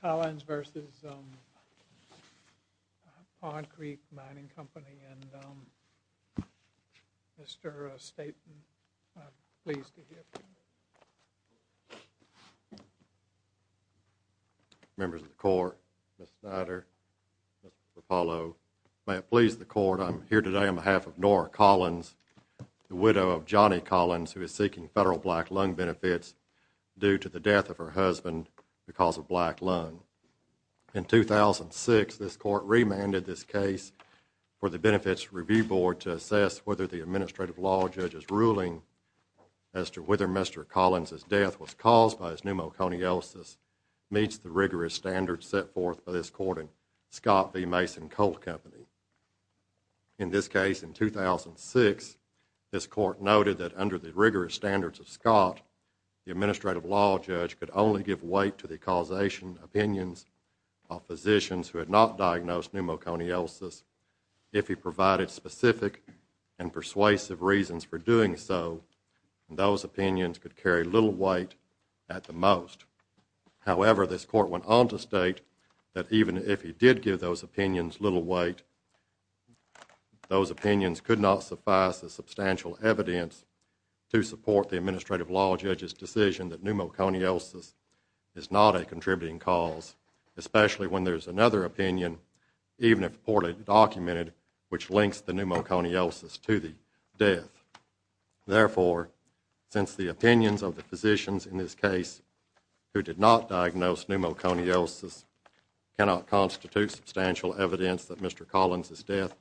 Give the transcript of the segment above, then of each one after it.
Collins v. Pond Creek Mining Company and Mr. Staton, I am pleased to hear from you. Members of the Court, Mr. Snyder, Mr. Rapallo, may it please the Court, I am here today on behalf of Nora Collins, the widow of Johnny Collins, who is seeking federal black loan benefits due to the death of her husband because of black loan. In 2006, this Court remanded this case for the Benefits Review Board to assess whether the Administrative Law Judge's ruling as to whether Mr. Collins' death was caused by his pneumoconiosis meets the rigorous standards set forth by this Court in Scott v. Mason Coal Company. In this case in 2006, this Court noted that under the rigorous standards of Scott, the Administrative Law Judge could only give weight to the causation opinions of physicians who had not diagnosed pneumoconiosis if he provided specific and persuasive reasons for doing so, and those opinions could carry little weight at the most. However, this Court went on to state that even if he did give those opinions little weight, those opinions could not suffice as substantial evidence to support the Administrative Law Judge's decision that pneumoconiosis is not a contributing cause, especially when there is another opinion, even if poorly documented, which links the pneumoconiosis to the death. Therefore, since the opinions of the physicians in this case who did not diagnose pneumoconiosis cannot constitute substantial evidence that Mr. Collins' death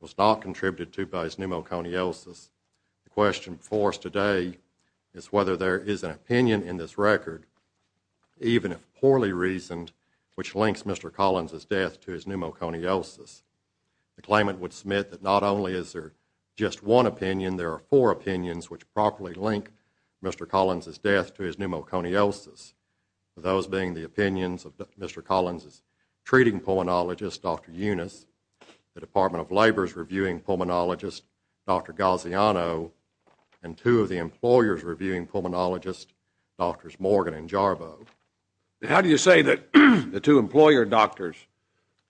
was not contributed to by his pneumoconiosis, the question before us today is whether there is an opinion in this record, even if poorly reasoned, which links Mr. Collins' death to his pneumoconiosis. The claimant would submit that not only is there just one opinion, there are four opinions which properly link Mr. Collins' death to his pneumoconiosis, those being the opinions of Mr. Collins' treating pulmonologist, Dr. Yunus, the Department of Labor's reviewing pulmonologist, Dr. Gaziano, and two of the employers' reviewing pulmonologists, Drs. Morgan and Jarbo. How do you say that the two employer doctors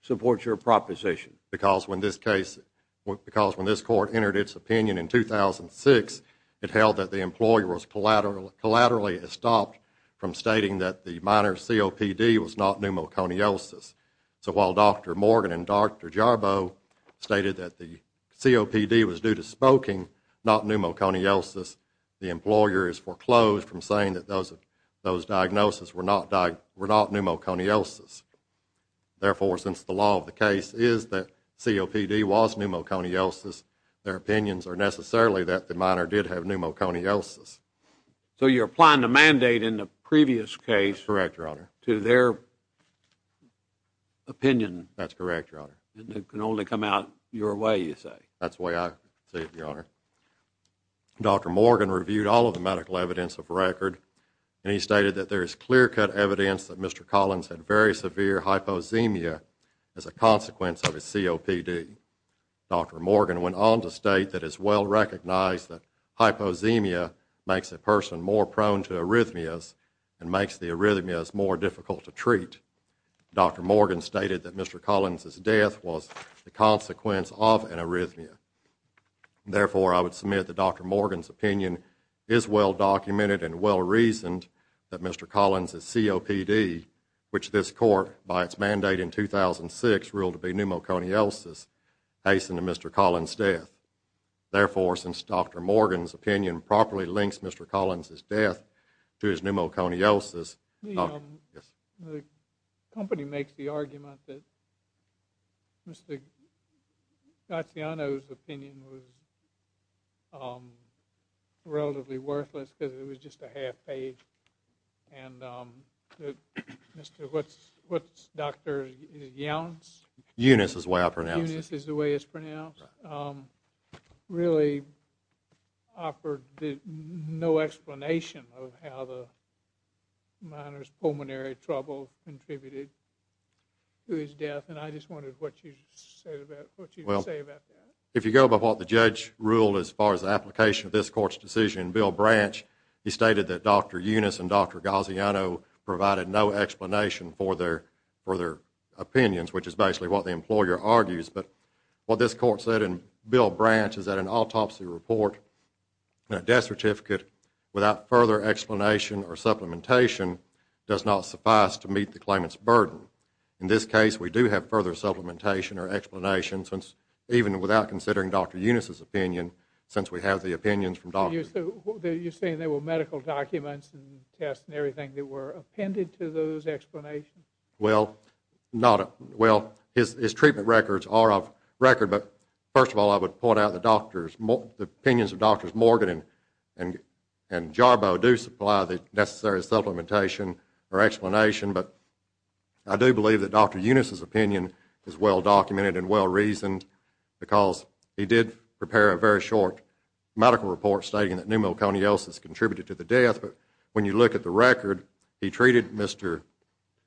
support your proposition? Because when this court entered its opinion in 2006, it held that the employer was collaterally estopped from stating that the minor COPD was not pneumoconiosis. So while Dr. Morgan and Dr. Jarbo stated that the COPD was due to smoking, not pneumoconiosis, the employer is foreclosed from saying that those diagnoses were not pneumoconiosis. Therefore, since the law of the case is that COPD was pneumoconiosis, their opinions are necessarily that the minor did have pneumoconiosis. So you're applying the mandate in the previous case to their opinion. That's correct, Your Honor. And it can only come out your way, you say? That's the way I see it, Your Honor. Dr. Morgan reviewed all of the medical evidence of record, and he stated that there is clear-cut evidence that Mr. Collins had very severe hyposemia as a consequence of his COPD. Dr. Morgan went on to state that it is well recognized that hyposemia makes a person more prone to arrhythmias and makes the arrhythmias more difficult to treat. Dr. Morgan stated that Mr. Collins' death was the consequence of an arrhythmia. Therefore, I would submit that Dr. Morgan's opinion is well documented and well reasoned that Mr. Collins' COPD, which this Court, by its mandate in 2006, ruled to be pneumoconiosis, hastened Mr. Collins' death. Therefore, since Dr. Morgan's opinion properly links Mr. Collins' death to his pneumoconiosis, the company makes the argument that Mr. Gaziano's arrhythmias are the cause of his death. Mr. Gaziano's opinion was relatively worthless because it was just a half-page, and Dr. Younes really offered no explanation of how the minor's pulmonary trouble contributed to his death, and I just wondered what you would say about that. If you go by what the judge ruled as far as the application of this Court's decision, Bill Branch, he stated that Dr. Younes and Dr. Gaziano provided no explanation for their opinions, which is basically what the employer argues. But what this Court said, and Bill Branch is at an autopsy report and a death certificate, without further explanation or further supplementation or explanation, even without considering Dr. Younes' opinion, since we have the opinions from Dr. Younes. You're saying there were medical documents and tests and everything that were appended to those explanations? Well, his treatment records are off record, but first of all, I would point out the opinions of Drs. Morgan and Jarbo do supply the necessary supplementation or explanation, but I do believe that Dr. Younes' opinion is well-documented and well-reasoned, because he did prepare a very short medical report stating that pneumoconiosis contributed to the death, but when you look at the record, he treated Mr.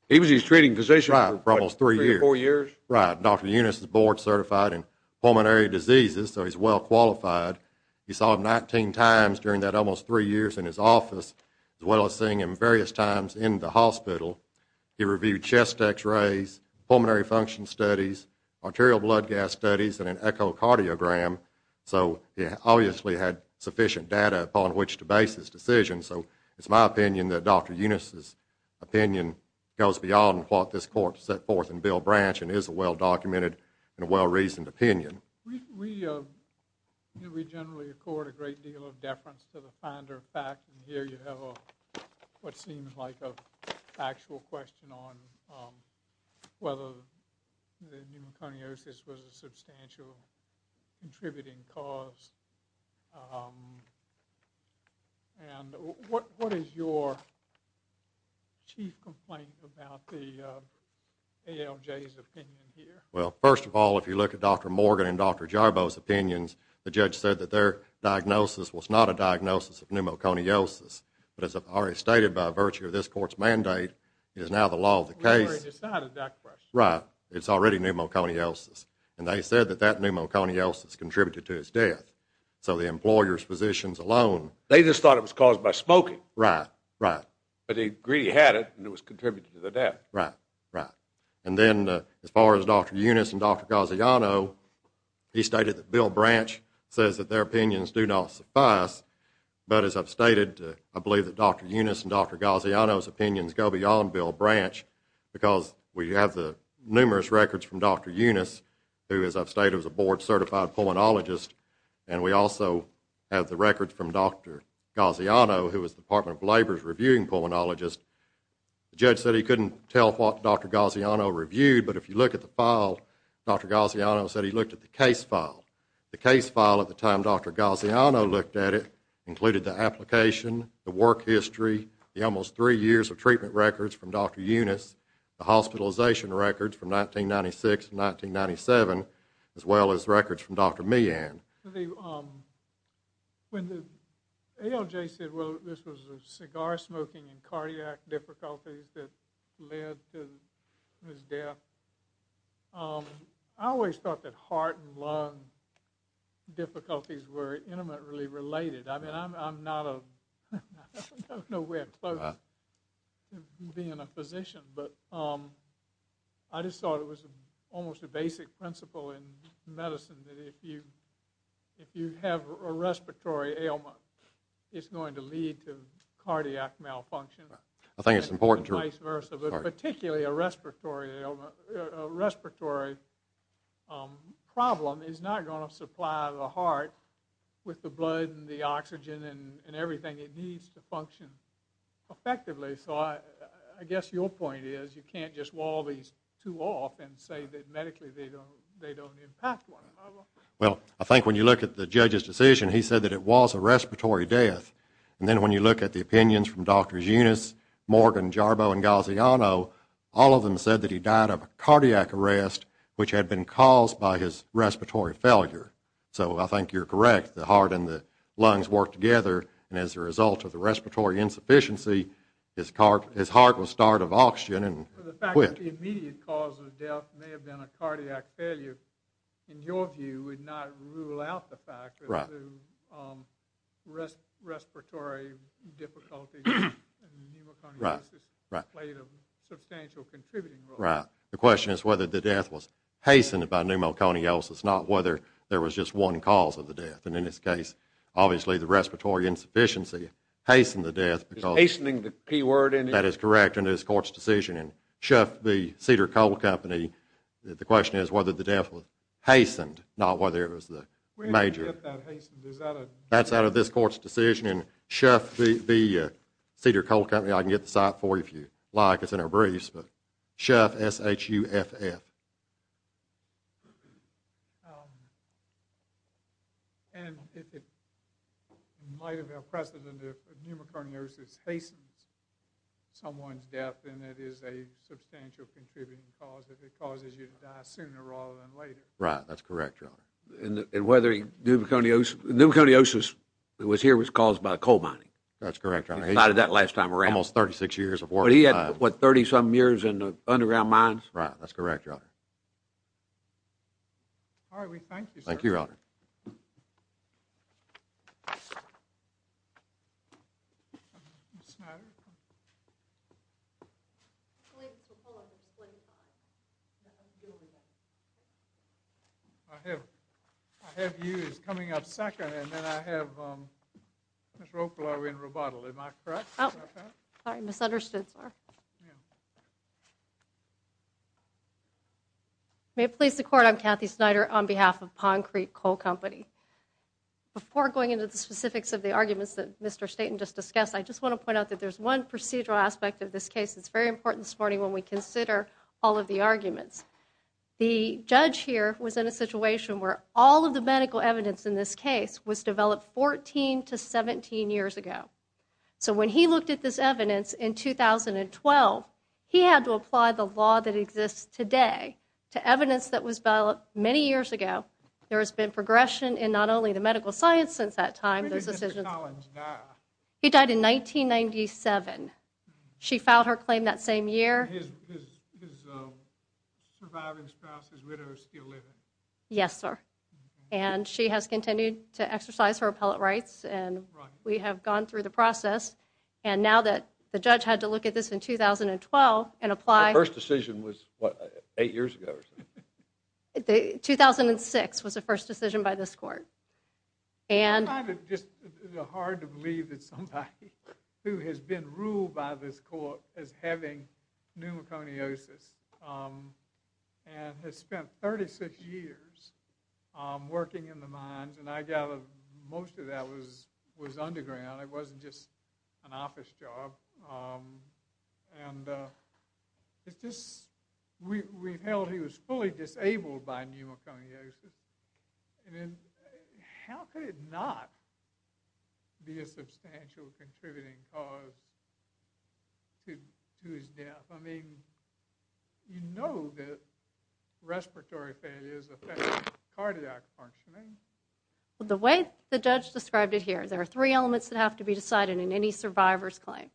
He was his treating physician for what, three or four years? Right. Dr. Younes is board-certified in pulmonary diseases, so he's well-qualified. You saw him 19 times during that almost three years in his office, as well as seeing him various times in the hospital. He reviewed chest X-rays, pulmonary function studies, arterial blood gas studies, and an echocardiogram, so he obviously had sufficient data upon which to base his decision, so it's my opinion that Dr. Younes' opinion goes beyond what this court set forth in Bill Branch and is a well-documented and well-reasoned opinion. We generally accord a great deal of deference to the finder of fact, and here you have what seems like a factual question on whether the pneumoconiosis was a substantial contributing cause, and what is your chief complaint about the ALJ's opinion here? Well, first of all, if you look at Dr. Morgan and Dr. Jarboe's opinions, the judge said that their diagnosis was not a diagnosis of pneumoconiosis, but as I've already stated by virtue of this court's mandate, it is now the law of the case. It's already decided, Dr. Brush. Right, it's already pneumoconiosis, and they said that that pneumoconiosis contributed to his death, so the employer's positions alone They just thought it was caused by smoking. Right, right. But they agreed he had it, and it was contributing to the death. Right, right. And then, as far as Dr. Younes and Dr. Gaziano, he stated that Bill Branch says that their opinions do not suffice, but as I've stated, I believe that Dr. Younes and Dr. Gaziano's opinions go beyond Bill Branch, because we have the numerous records from Dr. Younes, who, as I've stated, was a board-certified pulmonologist, and we also have the records from Dr. Gaziano, who was the Department of Labor's reviewing pulmonologist. The judge said he couldn't tell what Dr. Gaziano reviewed, but if you look at the file, Dr. Gaziano said he looked at the case file. The case file, at the time Dr. Gaziano looked at it, included the application, the work history, the almost three years of treatment records from Dr. Younes, the hospitalization records from 1996 to 1997, as well as records from Dr. Meehan. When the ALJ said, well, this was cigar smoking and cardiac difficulties that led to his death, I always thought that heart and lung difficulties were intimately related. I mean, I'm not of nowhere close to being a physician, but I just thought it was almost a basic principle in medicine that if you have a respiratory ailment, it's going to lead to cardiac malfunction, and vice versa, but particularly a respiratory ailment. A respiratory problem is not going to supply the heart with the blood and the oxygen and everything it needs to function effectively, so I guess your point is you can't just wall these two off and say that medically they don't impact one another. Well, I think when you look at the judge's decision, he said that it was a respiratory death, and then when you look at the opinions from Drs. Younes, Morgan, Jarbo, and Gaziano, all of them said that he died of a cardiac arrest, which had been caused by his respiratory failure. So I think you're correct, the heart and the lungs worked together, and as a result of the respiratory insufficiency, his heart was starved of oxygen and quit. The fact that the immediate cause of death may have been a cardiac failure, in your view, would not rule out the fact that the respiratory difficulty and pneumoconiosis played a substantial contributing role. Right. The question is whether the death was hastened by pneumoconiosis, not whether there was just one cause of the death, and in this case, obviously the respiratory insufficiency hastened the death. Is hastening the P word in it? That is correct in this Court's decision. Cedar Coal Company, the question is whether the death was hastened, not whether it was the major... Where did you get that hastened? Is that a... That's out of this Court's decision. And Chef v. Cedar Coal Company, I can get the site for you if you like. It's in our briefs. But Chef, S-H-U-F-F. And it might have been a precedent if pneumoconiosis hastened someone's death, and it is a hastened a substantial contributing cause if it causes you to die sooner rather than later. Right. That's correct, Your Honor. And whether pneumoconiosis that was here was caused by coal mining? That's correct, Your Honor. He cited that last time around. Almost 36 years of work. But he had, what, 30-some years in the underground mines? Right. All right. We thank you, sir. Thank you, Your Honor. Ms. Snyder? I believe it's a pull-up. It's 25. I have you as coming up second, and then I have Ms. Ropel. Are we in rebuttal? Am I correct? Is that correct? Sorry. I misunderstood, sir. Yeah. May it please the Court. I'm Kathy Snyder on behalf of Pond Creek Coal Company. Before going into the specifics of the arguments that Mr. Staten just discussed, I just want to point out that there's one procedural aspect of this case that's very important this morning when we consider all of the arguments. The judge here was in a situation where all of the medical evidence in this case was developed 14 to 17 years ago. So when he looked at this evidence in 2012, he had to apply the law that exists today to evidence that was developed many years ago. There has been progression in not only the medical science since that time. Where did Mr. Collins die? He died in 1997. She filed her claim that same year. Is his surviving spouse, his widow, still living? Yes, sir. And she has continued to exercise her appellate rights, and we have gone through the process. And now that the judge had to look at this in 2012 and apply... Eight years ago, or something. 2006 was the first decision by this court. It's hard to believe that somebody who has been ruled by this court as having pneumoconiosis and has spent 36 years working in the mines, and I gather most of that was underground. It wasn't just an office job. And we've held he was fully disabled by pneumoconiosis. How could it not be a substantial contributing cause to his death? I mean, you know that respiratory failures affect cardiac functioning. The way the judge described it here, there are three elements that have to be decided in any survivor's claim.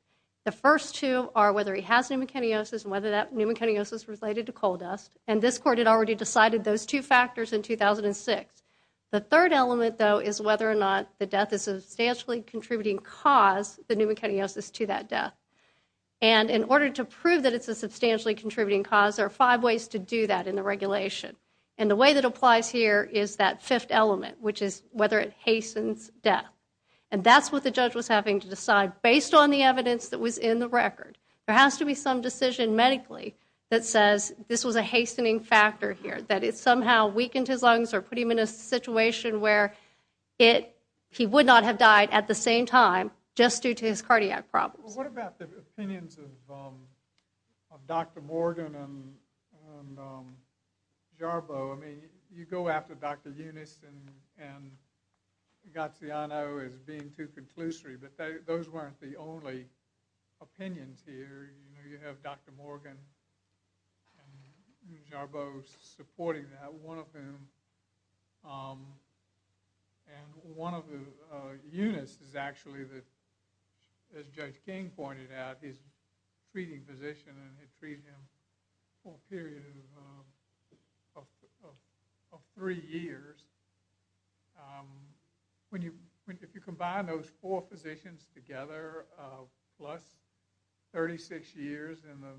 The first two are whether he has pneumoconiosis and whether that pneumoconiosis is related to coal dust. And this court had already decided those two factors in 2006. The third element, though, is whether or not the death is a substantially contributing cause, the pneumoconiosis, to that death. And in order to prove that it's a substantially contributing cause, there are five ways to do that in the regulation. And the way that applies here is that fifth element, which is whether it hastens death. And that's what the judge was having to decide based on the evidence that was in the record. There has to be some decision medically that says this was a hastening factor here, that it somehow weakened his lungs or put him in a situation where he would not have died at the same time just due to his cardiac problems. Well, what about the opinions of Dr. Morgan and Jarbo? I mean, you go after Dr. Eunice and Gaziano as being too conclusory, but those weren't the only opinions here. You have Dr. Morgan and Jarbo supporting that, one of whom. And one of Eunice is actually, as Judge King pointed out, his treating physician had treated him for a period of three years. If you combine those four physicians together, plus 36 years in the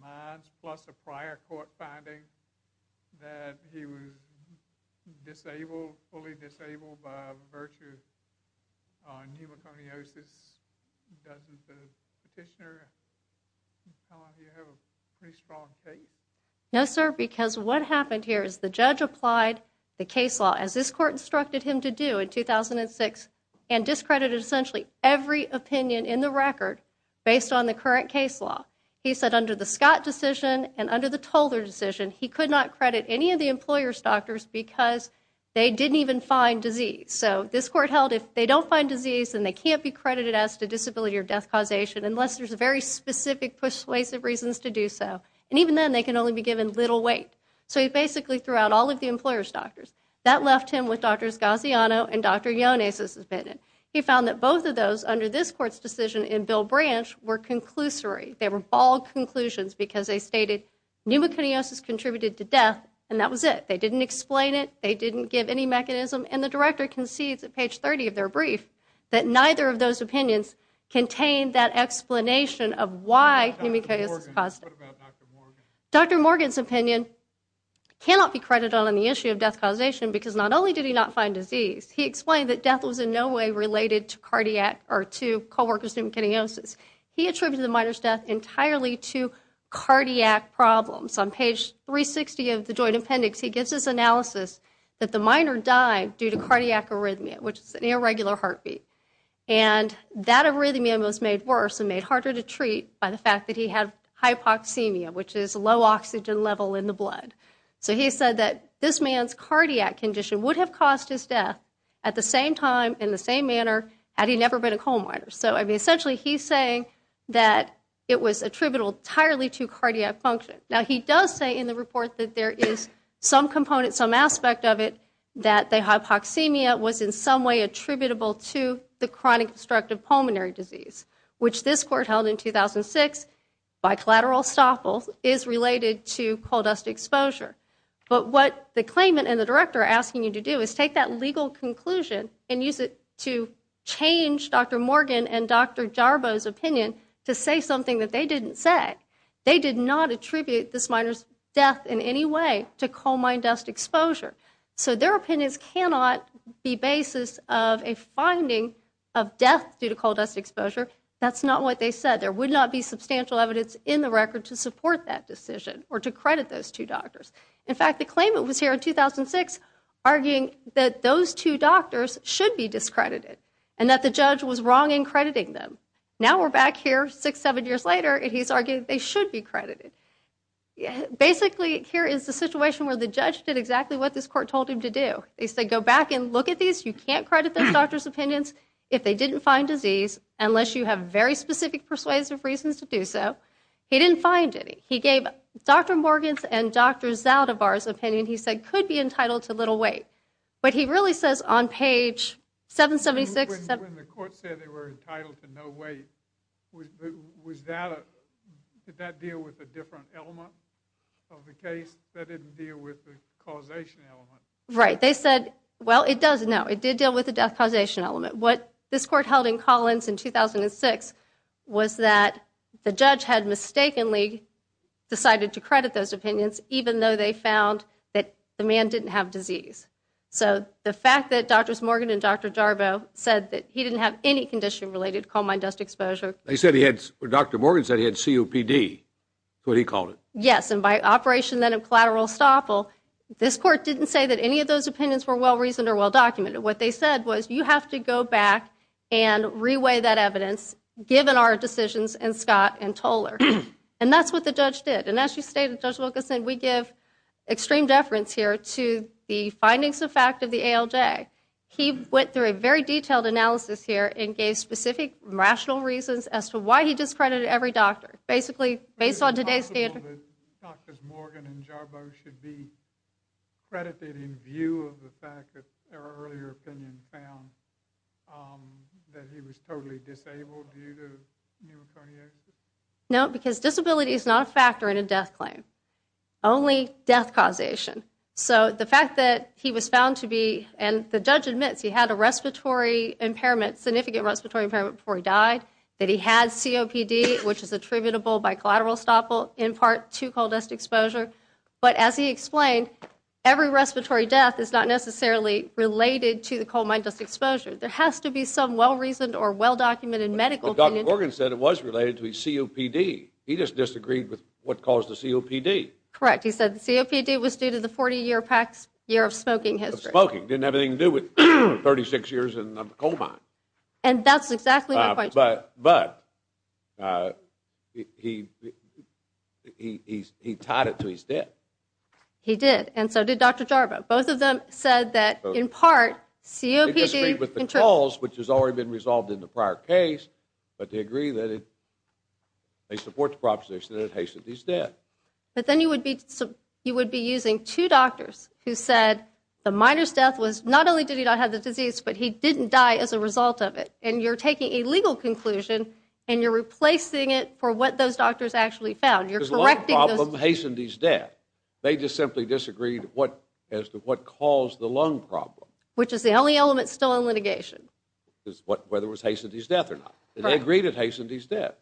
minds, plus a prior court finding that he was disabled, fully disabled by virtue of pneumoconiosis, doesn't the petitioner have a pretty strong case? No, sir, because what happened here is the judge applied the case law, as this court instructed him to do in 2006, and discredited essentially every opinion in the record based on the current case law. He said under the Scott decision and under the Toler decision, he could not credit any of the employer's doctors because they didn't even find disease. So this court held if they don't find disease, then they can't be credited as to disability or death causation unless there's a very specific persuasive reasons to do so. And even then, they can only be given little weight. So he basically threw out all of the employer's doctors. That left him with Dr. Gaziano and Dr. Eunice's opinion. He found that both of those under this court's decision in Bill Branch were conclusory. They were bald conclusions because they stated pneumoconiosis contributed to death, and that was it. They didn't explain it. They didn't give any mechanism, and the director concedes at page 30 of their brief that neither of those opinions contained that explanation of why pneumoconiosis caused it. What about Dr. Morgan? Dr. Morgan's opinion cannot be credited on the issue of death causation because not only did he not find disease, he explained that death was in no way related to cardiac or to co-worker's pneumoconiosis. He attributed the minor's death entirely to cardiac problems. On page 360 of the joint appendix, he gives this analysis that the minor died due to cardiac arrhythmia, which is an irregular heartbeat. And that arrhythmia was made worse and made harder to treat by the fact that he had hypoxemia, which is a low oxygen level in the blood. So he said that this man's cardiac condition would have caused his death at the same time, in the same manner, had he never been a coal miner. So essentially, he's saying that it was attributable entirely to cardiac function. Now, he does say in the report that there is some component, some aspect of it, that the hypoxemia was in some way attributable to the chronic obstructive pulmonary disease, which this court held in 2006 by collateral estoppel is related to coal dust exposure. But what the claimant and the director are asking you to do is take that legal conclusion and use it to change Dr. Morgan and Dr. Jarbo's opinion to say something that they didn't say. They did not attribute this minor's death in any way to coal mine dust exposure. So their opinions cannot be basis of a finding of death due to coal dust exposure. That's not what they said. There would not be substantial evidence in the record to support that decision or to credit those two doctors. In fact, the claimant was here in 2006 arguing that those two doctors should be discredited and that the judge was wrong in crediting them. Now we're back here six, seven years later, and he's arguing they should be credited. Basically, here is the situation where the judge did exactly what this court told him to do. They said, go back and look at these. You can't credit those doctors' opinions if they didn't find disease, unless you have very specific persuasive reasons to do so. He didn't find any. He gave Dr. Morgan's and Dr. Zaldivar's opinion, he said, could be entitled to little weight. But he really says on page 776- When the court said they were entitled to no weight, did that deal with a different element of the case that didn't deal with the causation element? Right. They said, well, it does. No, it did deal with the death causation element. What this court held in Collins in 2006 was that the judge had mistakenly decided to credit those opinions even though they found that the man didn't have disease. So the fact that Drs. Morgan and Dr. Jarbo said that he didn't have any condition-related coal mine dust exposure- They said he had, Dr. Morgan said he had COPD, is what he called it. Yes, and by operation then of collateral estoppel, this court didn't say that any of those opinions were well-reasoned or well-documented. What they said was, you have to go back and reweigh that evidence, given our decisions in Scott and Toler. And that's what the judge did. And as you stated, Judge Wilkinson, we give extreme deference here to the findings of fact of the ALJ. He went through a very detailed analysis here and gave specific rational reasons as to why he discredited every doctor. Basically, based on today's standard- Is it possible that Drs. Morgan and Jarbo should be credited in view of the fact that their earlier opinion found that he was totally disabled due to pneumocardiac? No, because disability is not a factor in a death claim. Only death causation. So the fact that he was found to be, and the judge admits he had a respiratory impairment, significant respiratory impairment before he died, that he had COPD, which is attributable by collateral estoppel in part to coal dust exposure. But as he explained, every respiratory death is not necessarily related to the coal mine dust exposure. There has to be some well-reasoned or well-documented medical opinion- He just disagreed with what caused the COPD. Correct. He said the COPD was due to the 40-year past year of smoking history. Of smoking. Didn't have anything to do with 36 years in the coal mine. And that's exactly my point. But he tied it to his death. He did. And so did Dr. Jarbo. Both of them said that, in part, COPD- He disagreed with the cause, which has already been resolved in the prior case, but they agree that they support the proposition that it hastened his death. But then you would be using two doctors who said the miner's death was, not only did he not have the disease, but he didn't die as a result of it. And you're taking a legal conclusion and you're replacing it for what those doctors actually found. You're correcting those- His lung problem hastened his death. They just simply disagreed as to what caused the lung problem. Which is the only element still in litigation. Whether it was hastened his death or not. They agreed it hastened his death.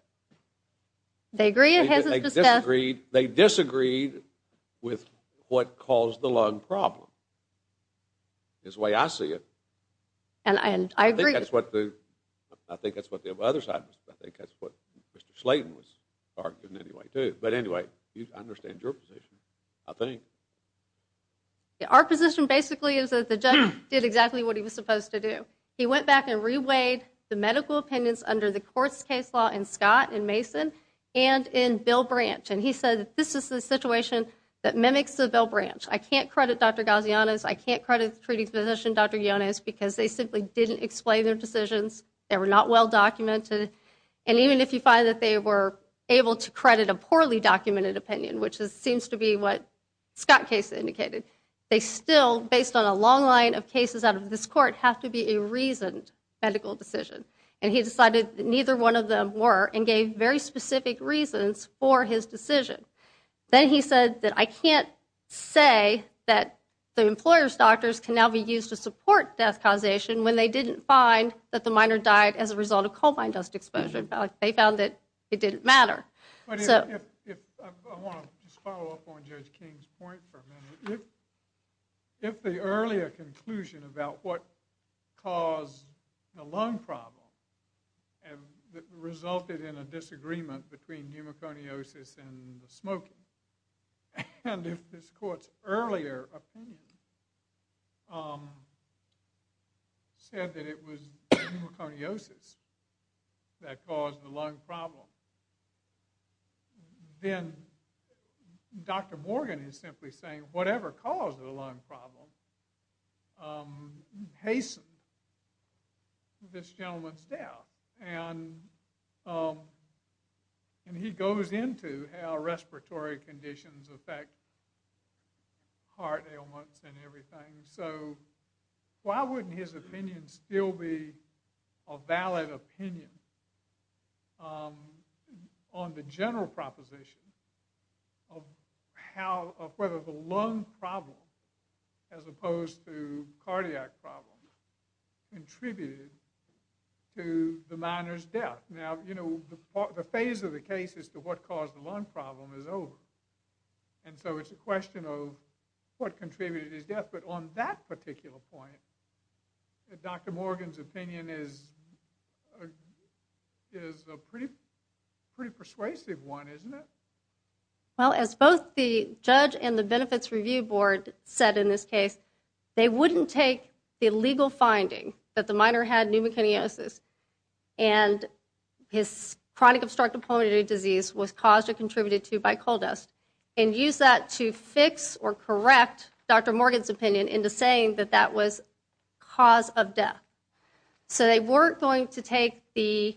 They agree it hastened his death. They disagreed with what caused the lung problem. That's the way I see it. And I agree- I think that's what the other side was- I think that's what Mr. Slayton was arguing anyway, too. But anyway, I understand your position, I think. Our position basically is that the judge did exactly what he was supposed to do. He went back and reweighed the medical opinions under the court's case law in Scott and Mason and in Bill Branch. And he said this is the situation that mimics the Bill Branch. I can't credit Dr. Gazianas. I can't credit the treating physician, Dr. Yonez, because they simply didn't explain their decisions. They were not well documented. And even if you find that they were able to credit a poorly documented opinion, which seems to be what Scott's case indicated, they still, based on a long line of cases out of this court, have to be a reasoned medical decision. And he decided that neither one of them were and gave very specific reasons for his decision. Then he said that I can't say that the employer's doctors can now be used to support death causation when they didn't find that the minor died as a result of coal mine dust exposure. They found that it didn't matter. I want to just follow up on Judge King's point for a minute. If the earlier conclusion about what caused the lung problem resulted in a disagreement between pneumoconiosis and smoking, and if this court's earlier opinion said that it was pneumoconiosis that caused the lung problem, then Dr. Morgan is simply saying whatever caused the lung problem hastened this gentleman's doubt. And he goes into how respiratory conditions affect heart ailments and everything. So why wouldn't his opinion still be a valid opinion on the general proposition of whether the lung problem, as opposed to cardiac problem, contributed to the minor's death? Now, the phase of the case as to what caused the lung problem is over. And so it's a question of what contributed to his death. But on that particular point, Dr. Morgan's opinion is a pretty persuasive one, isn't it? Well, as both the judge and the Benefits Review Board said in this case, they wouldn't take the legal finding that the minor had pneumoconiosis and his chronic obstructive pulmonary disease was caused or contributed to by coal dust and use that to fix or correct Dr. Morgan's opinion into saying that that was cause of death. So they weren't going to take the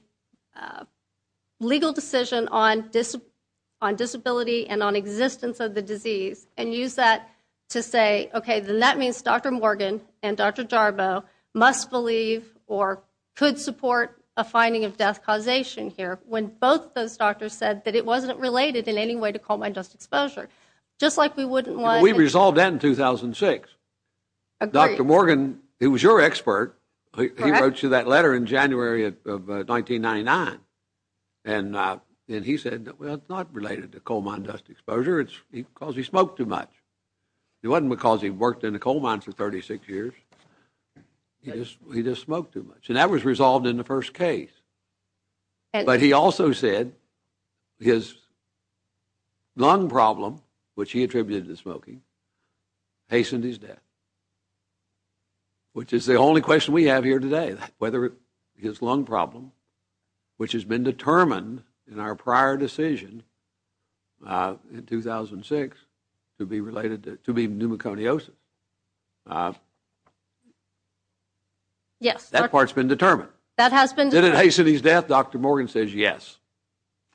legal decision on disability and on existence of the disease and use that to say, okay, then that means Dr. Morgan and Dr. Jarboe must believe or could support a finding of death causation here, when both those doctors said that it wasn't related in any way to coal mine dust exposure. We resolved that in 2006. Dr. Morgan, he was your expert. He wrote you that letter in January of 1999. And he said, well, it's not related to coal mine dust exposure. It's because he smoked too much. It wasn't because he worked in a coal mine for 36 years. He just smoked too much. And that was resolved in the first case. But he also said his lung problem, which he attributed to smoking, hastened his death, which is the only question we have here today, whether his lung problem, which has been determined in our prior decision in 2006 to be pneumoconiosis. Yes. That part's been determined. That has been determined. Did it hasten his death? Dr. Morgan says yes.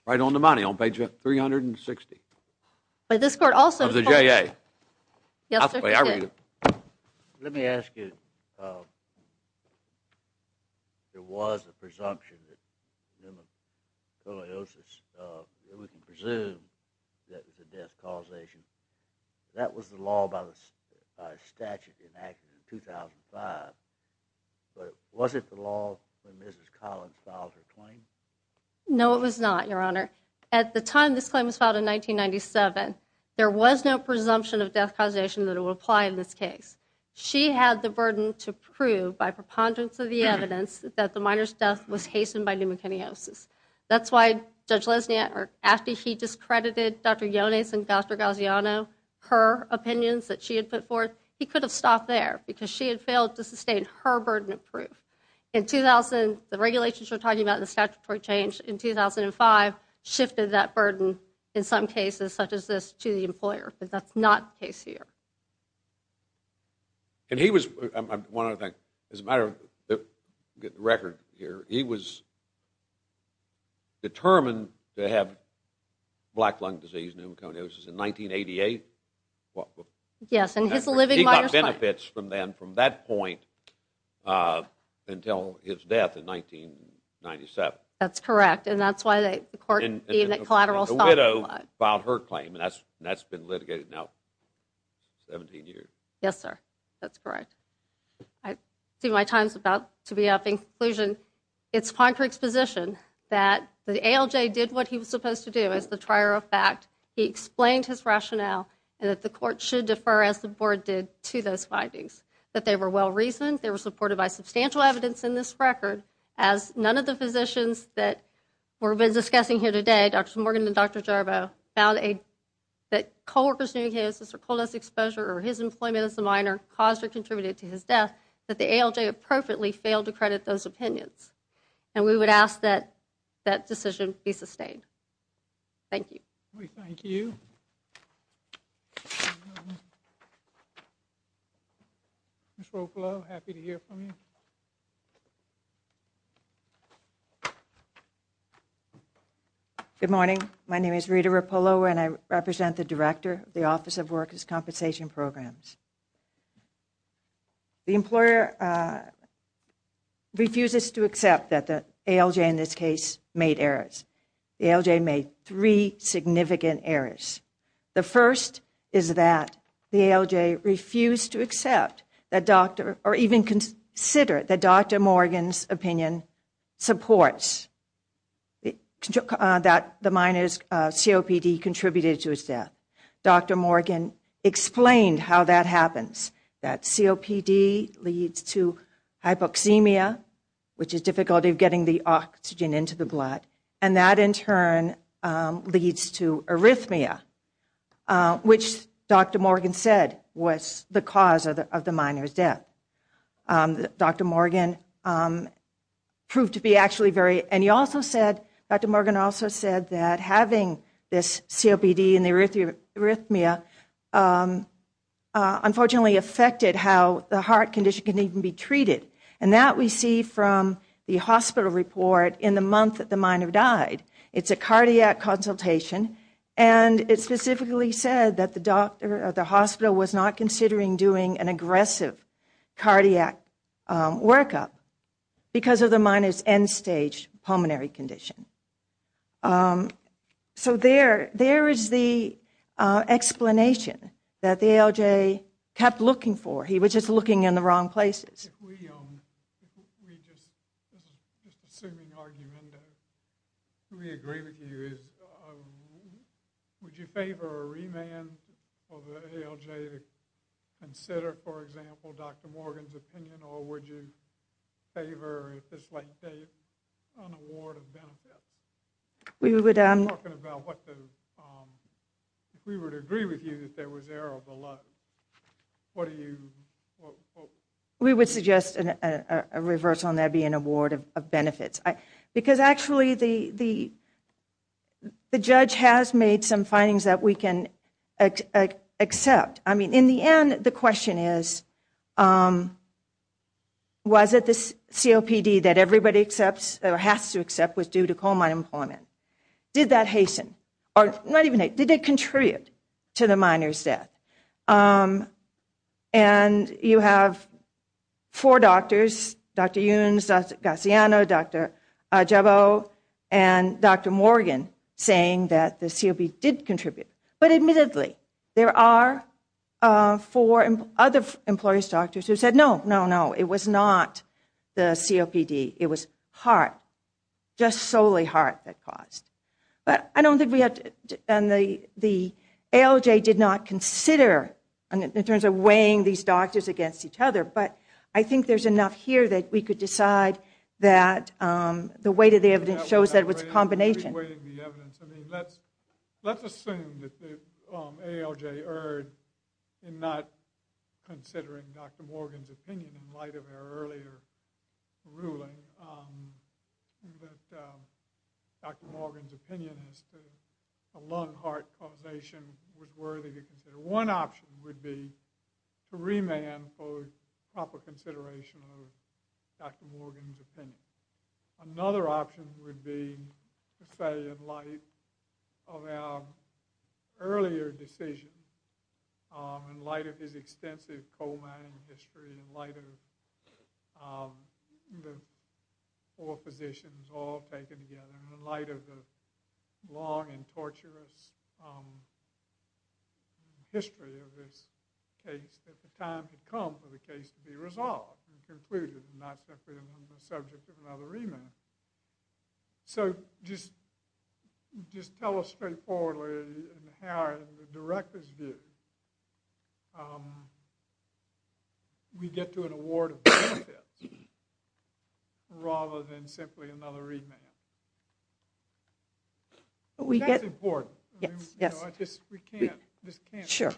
Right on the money, on page 360. But this court also told you. Of the JA. Yes, it did. I'll read it. Let me ask you, there was a presumption that pneumoconiosis, we can presume that it was a death causation. That was the law by statute enacted in 2005. But was it the law when Mrs. Collins filed her claim? No, it was not, Your Honor. At the time this claim was filed in 1997, there was no presumption of death causation that would apply in this case. She had the burden to prove, by preponderance of the evidence, that the miner's death was hastened by pneumoconiosis. That's why Judge Lesniak, after he discredited Dr. Yones and Dr. Gaziano, her opinions that she had put forth, he could have stopped there because she had failed to sustain her burden of proof. In 2000, the regulations you're talking about, the statutory change in 2005, shifted that burden in some cases, such as this, to the employer. But that's not the case here. And he was, one other thing, as a matter of record here, he was determined to have black lung disease, pneumoconiosis, in 1988? Yes, and his living miner's claim. He got benefits from then, from that point, until his death in 1997. That's correct, and that's why the court deemed it collateral assault. And the widow filed her claim, and that's been litigated now 17 years. Yes, sir. That's correct. I see my time's about to be up. In conclusion, it's fine for exposition that the ALJ did what he was supposed to do, as the trier of fact, he explained his rationale, and that the court should defer, as the board did, to those findings, that they were well-reasoned, they were supported by substantial evidence in this record, as none of the physicians that we've been discussing here today, Dr. Morgan and Dr. Jarbo, found that co-workers' pneumoconiosis or colonoscopy exposure, or his employment as a miner, caused or contributed to his death, that the ALJ appropriately failed to credit those opinions. And we would ask that that decision be sustained. Thank you. We thank you. Ms. Rapolo, happy to hear from you. Good morning. My name is Rita Rapolo, and I represent the Director of the Office of Workers' Compensation Programs. The employer refuses to accept that the ALJ, in this case, made errors. The ALJ made three significant errors. The first is that the ALJ refused to accept, or even consider, that Dr. Morgan's opinion supports that the miner's COPD contributed to his death. Dr. Morgan explained how that happens, that COPD leads to hypoxemia, which is difficulty of getting the oxygen into the blood, and that in turn leads to arrhythmia, which Dr. Morgan said was the cause of the miner's death. Dr. Morgan proved to be actually very, and he also said, Dr. Morgan also said that having this COPD and the arrhythmia unfortunately affected how the heart condition can even be treated. And that we see from the hospital report in the month that the miner died. It's a cardiac consultation, and it specifically said that the hospital was not considering doing an aggressive cardiac workup because of the miner's end-stage pulmonary condition. So there is the explanation that the ALJ kept looking for. He was just looking in the wrong places. If we, just assuming argument, if we agree with you, would you favor a remand for the ALJ to consider, for example, Dr. Morgan's opinion, or would you favor, at this late date, an award of benefits? We would, I'm talking about what the, if we were to agree with you that there was error of the law, what do you, what? We would suggest a reverse on that being an award of benefits. Because actually the judge has made some findings that we can accept. I mean, in the end, the question is, was it the COPD that everybody accepts, or has to accept, was due to coal mine employment? Did that hasten, or not even hasten, did it contribute to the miner's death? And you have four doctors, Dr. Younes, Dr. Gaciano, Dr. Jabeau, and Dr. Morgan, saying that the COPD did contribute. But admittedly, there are four other employees' doctors who said, no, no, no, it was not the COPD, it was heart, just solely heart that caused. But I don't think we have to, and the ALJ did not consider, in terms of weighing these doctors against each other, but I think there's enough here that we could decide that the weight of the evidence shows that it was a combination. Let's assume that the ALJ erred in not considering Dr. Morgan's opinion in light of her earlier ruling, that Dr. Morgan's opinion as to a lung-heart causation was worthy to consider. One option would be to remand for proper consideration of Dr. Morgan's opinion. Another option would be to say in light of our earlier decision, in light of his extensive coal mining history, in light of the four physicians all taken together, and in light of the long and torturous history of this case, that the time had come for the case to be resolved and concluded and not simply on the subject of another remand. So just tell us straightforwardly how, in the director's view, we get to an award of benefits rather than simply another remand. That's important. I just can't go on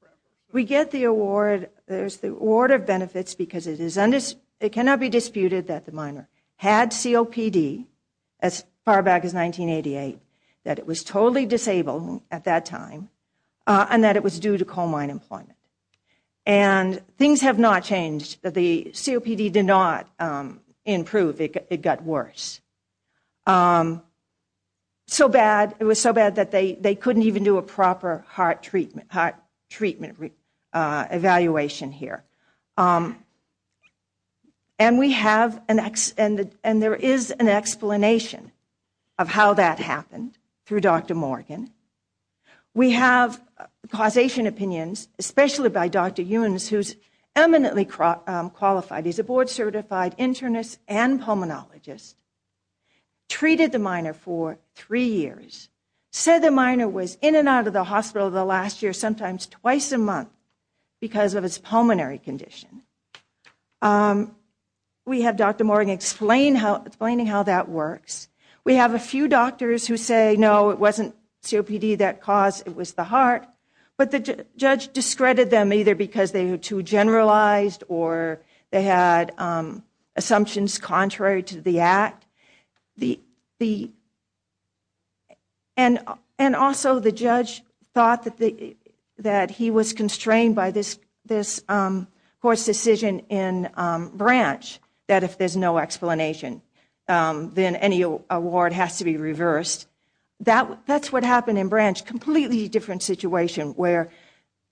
forever. We get the award of benefits because it cannot be disputed that the miner had COPD as far back as 1988, that it was totally disabled at that time, and that it was due to coal mine employment. And things have not changed. The COPD did not improve. It got worse. It was so bad that they couldn't even do a proper heart treatment evaluation here. And there is an explanation of how that happened through Dr. Morgan. We have causation opinions, especially by Dr. Ewans, who's eminently qualified. He's a board-certified internist and pulmonologist, treated the miner for three years, said the miner was in and out of the hospital the last year, sometimes twice a month, because of his pulmonary condition. We have Dr. Morgan explaining how that works. We have a few doctors who say, no, it wasn't COPD that caused it, it was the heart. But the judge discredited them either because they were too generalized or they had assumptions contrary to the act. And also the judge thought that he was constrained by this court's decision in Branch that if there's no explanation, then any award has to be reversed. That's what happened in Branch. Completely different situation where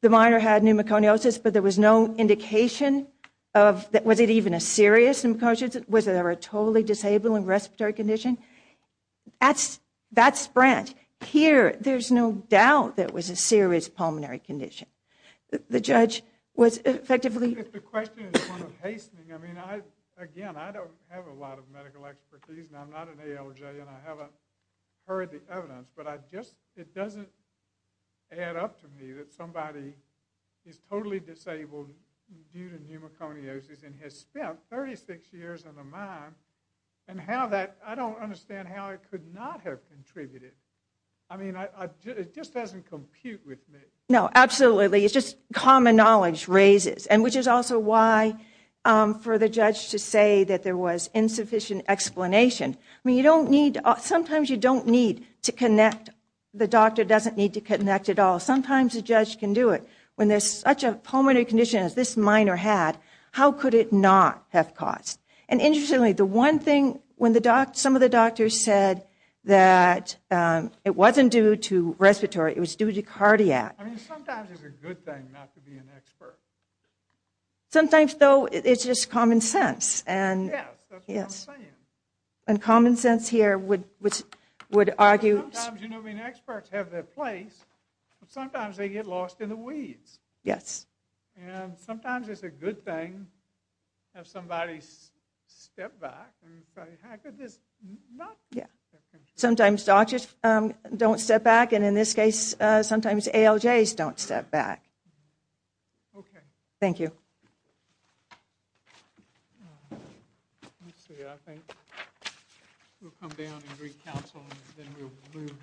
the miner had pneumoconiosis, but there was no indication of, was it even a serious pneumoconiosis? Was there a totally disabled and respiratory condition? That's Branch. Here, there's no doubt there was a serious pulmonary condition. The judge was effectively... If the question is one of hastening, I mean, again, I don't have a lot of medical expertise, and I'm not an ALJ, and I haven't heard the evidence, but it doesn't add up to me that somebody is totally disabled due to pneumoconiosis and has spent 36 years on a mine, and I don't understand how it could not have contributed. I mean, it just doesn't compute with me. No, absolutely. It's just common knowledge raises, and which is also why for the judge to say that there was insufficient explanation. I mean, sometimes you don't need to connect. The doctor doesn't need to connect at all. Sometimes a judge can do it. When there's such a pulmonary condition as this miner had, how could it not have caused? And interestingly, the one thing, when some of the doctors said that it wasn't due to respiratory, it was due to cardiac. I mean, sometimes it's a good thing not to be an expert. Sometimes, though, it's just common sense. Yes, that's what I'm saying. And common sense here would argue. Sometimes, you know, I mean, experts have their place, but sometimes they get lost in the weeds. Yes. And sometimes it's a good thing to have somebody step back and say, how could this not have contributed? Sometimes doctors don't step back, and in this case, sometimes ALJs don't step back. Okay. Thank you. Let's see. I think we'll come down and greet counsel, and then we'll move directly into our next guest.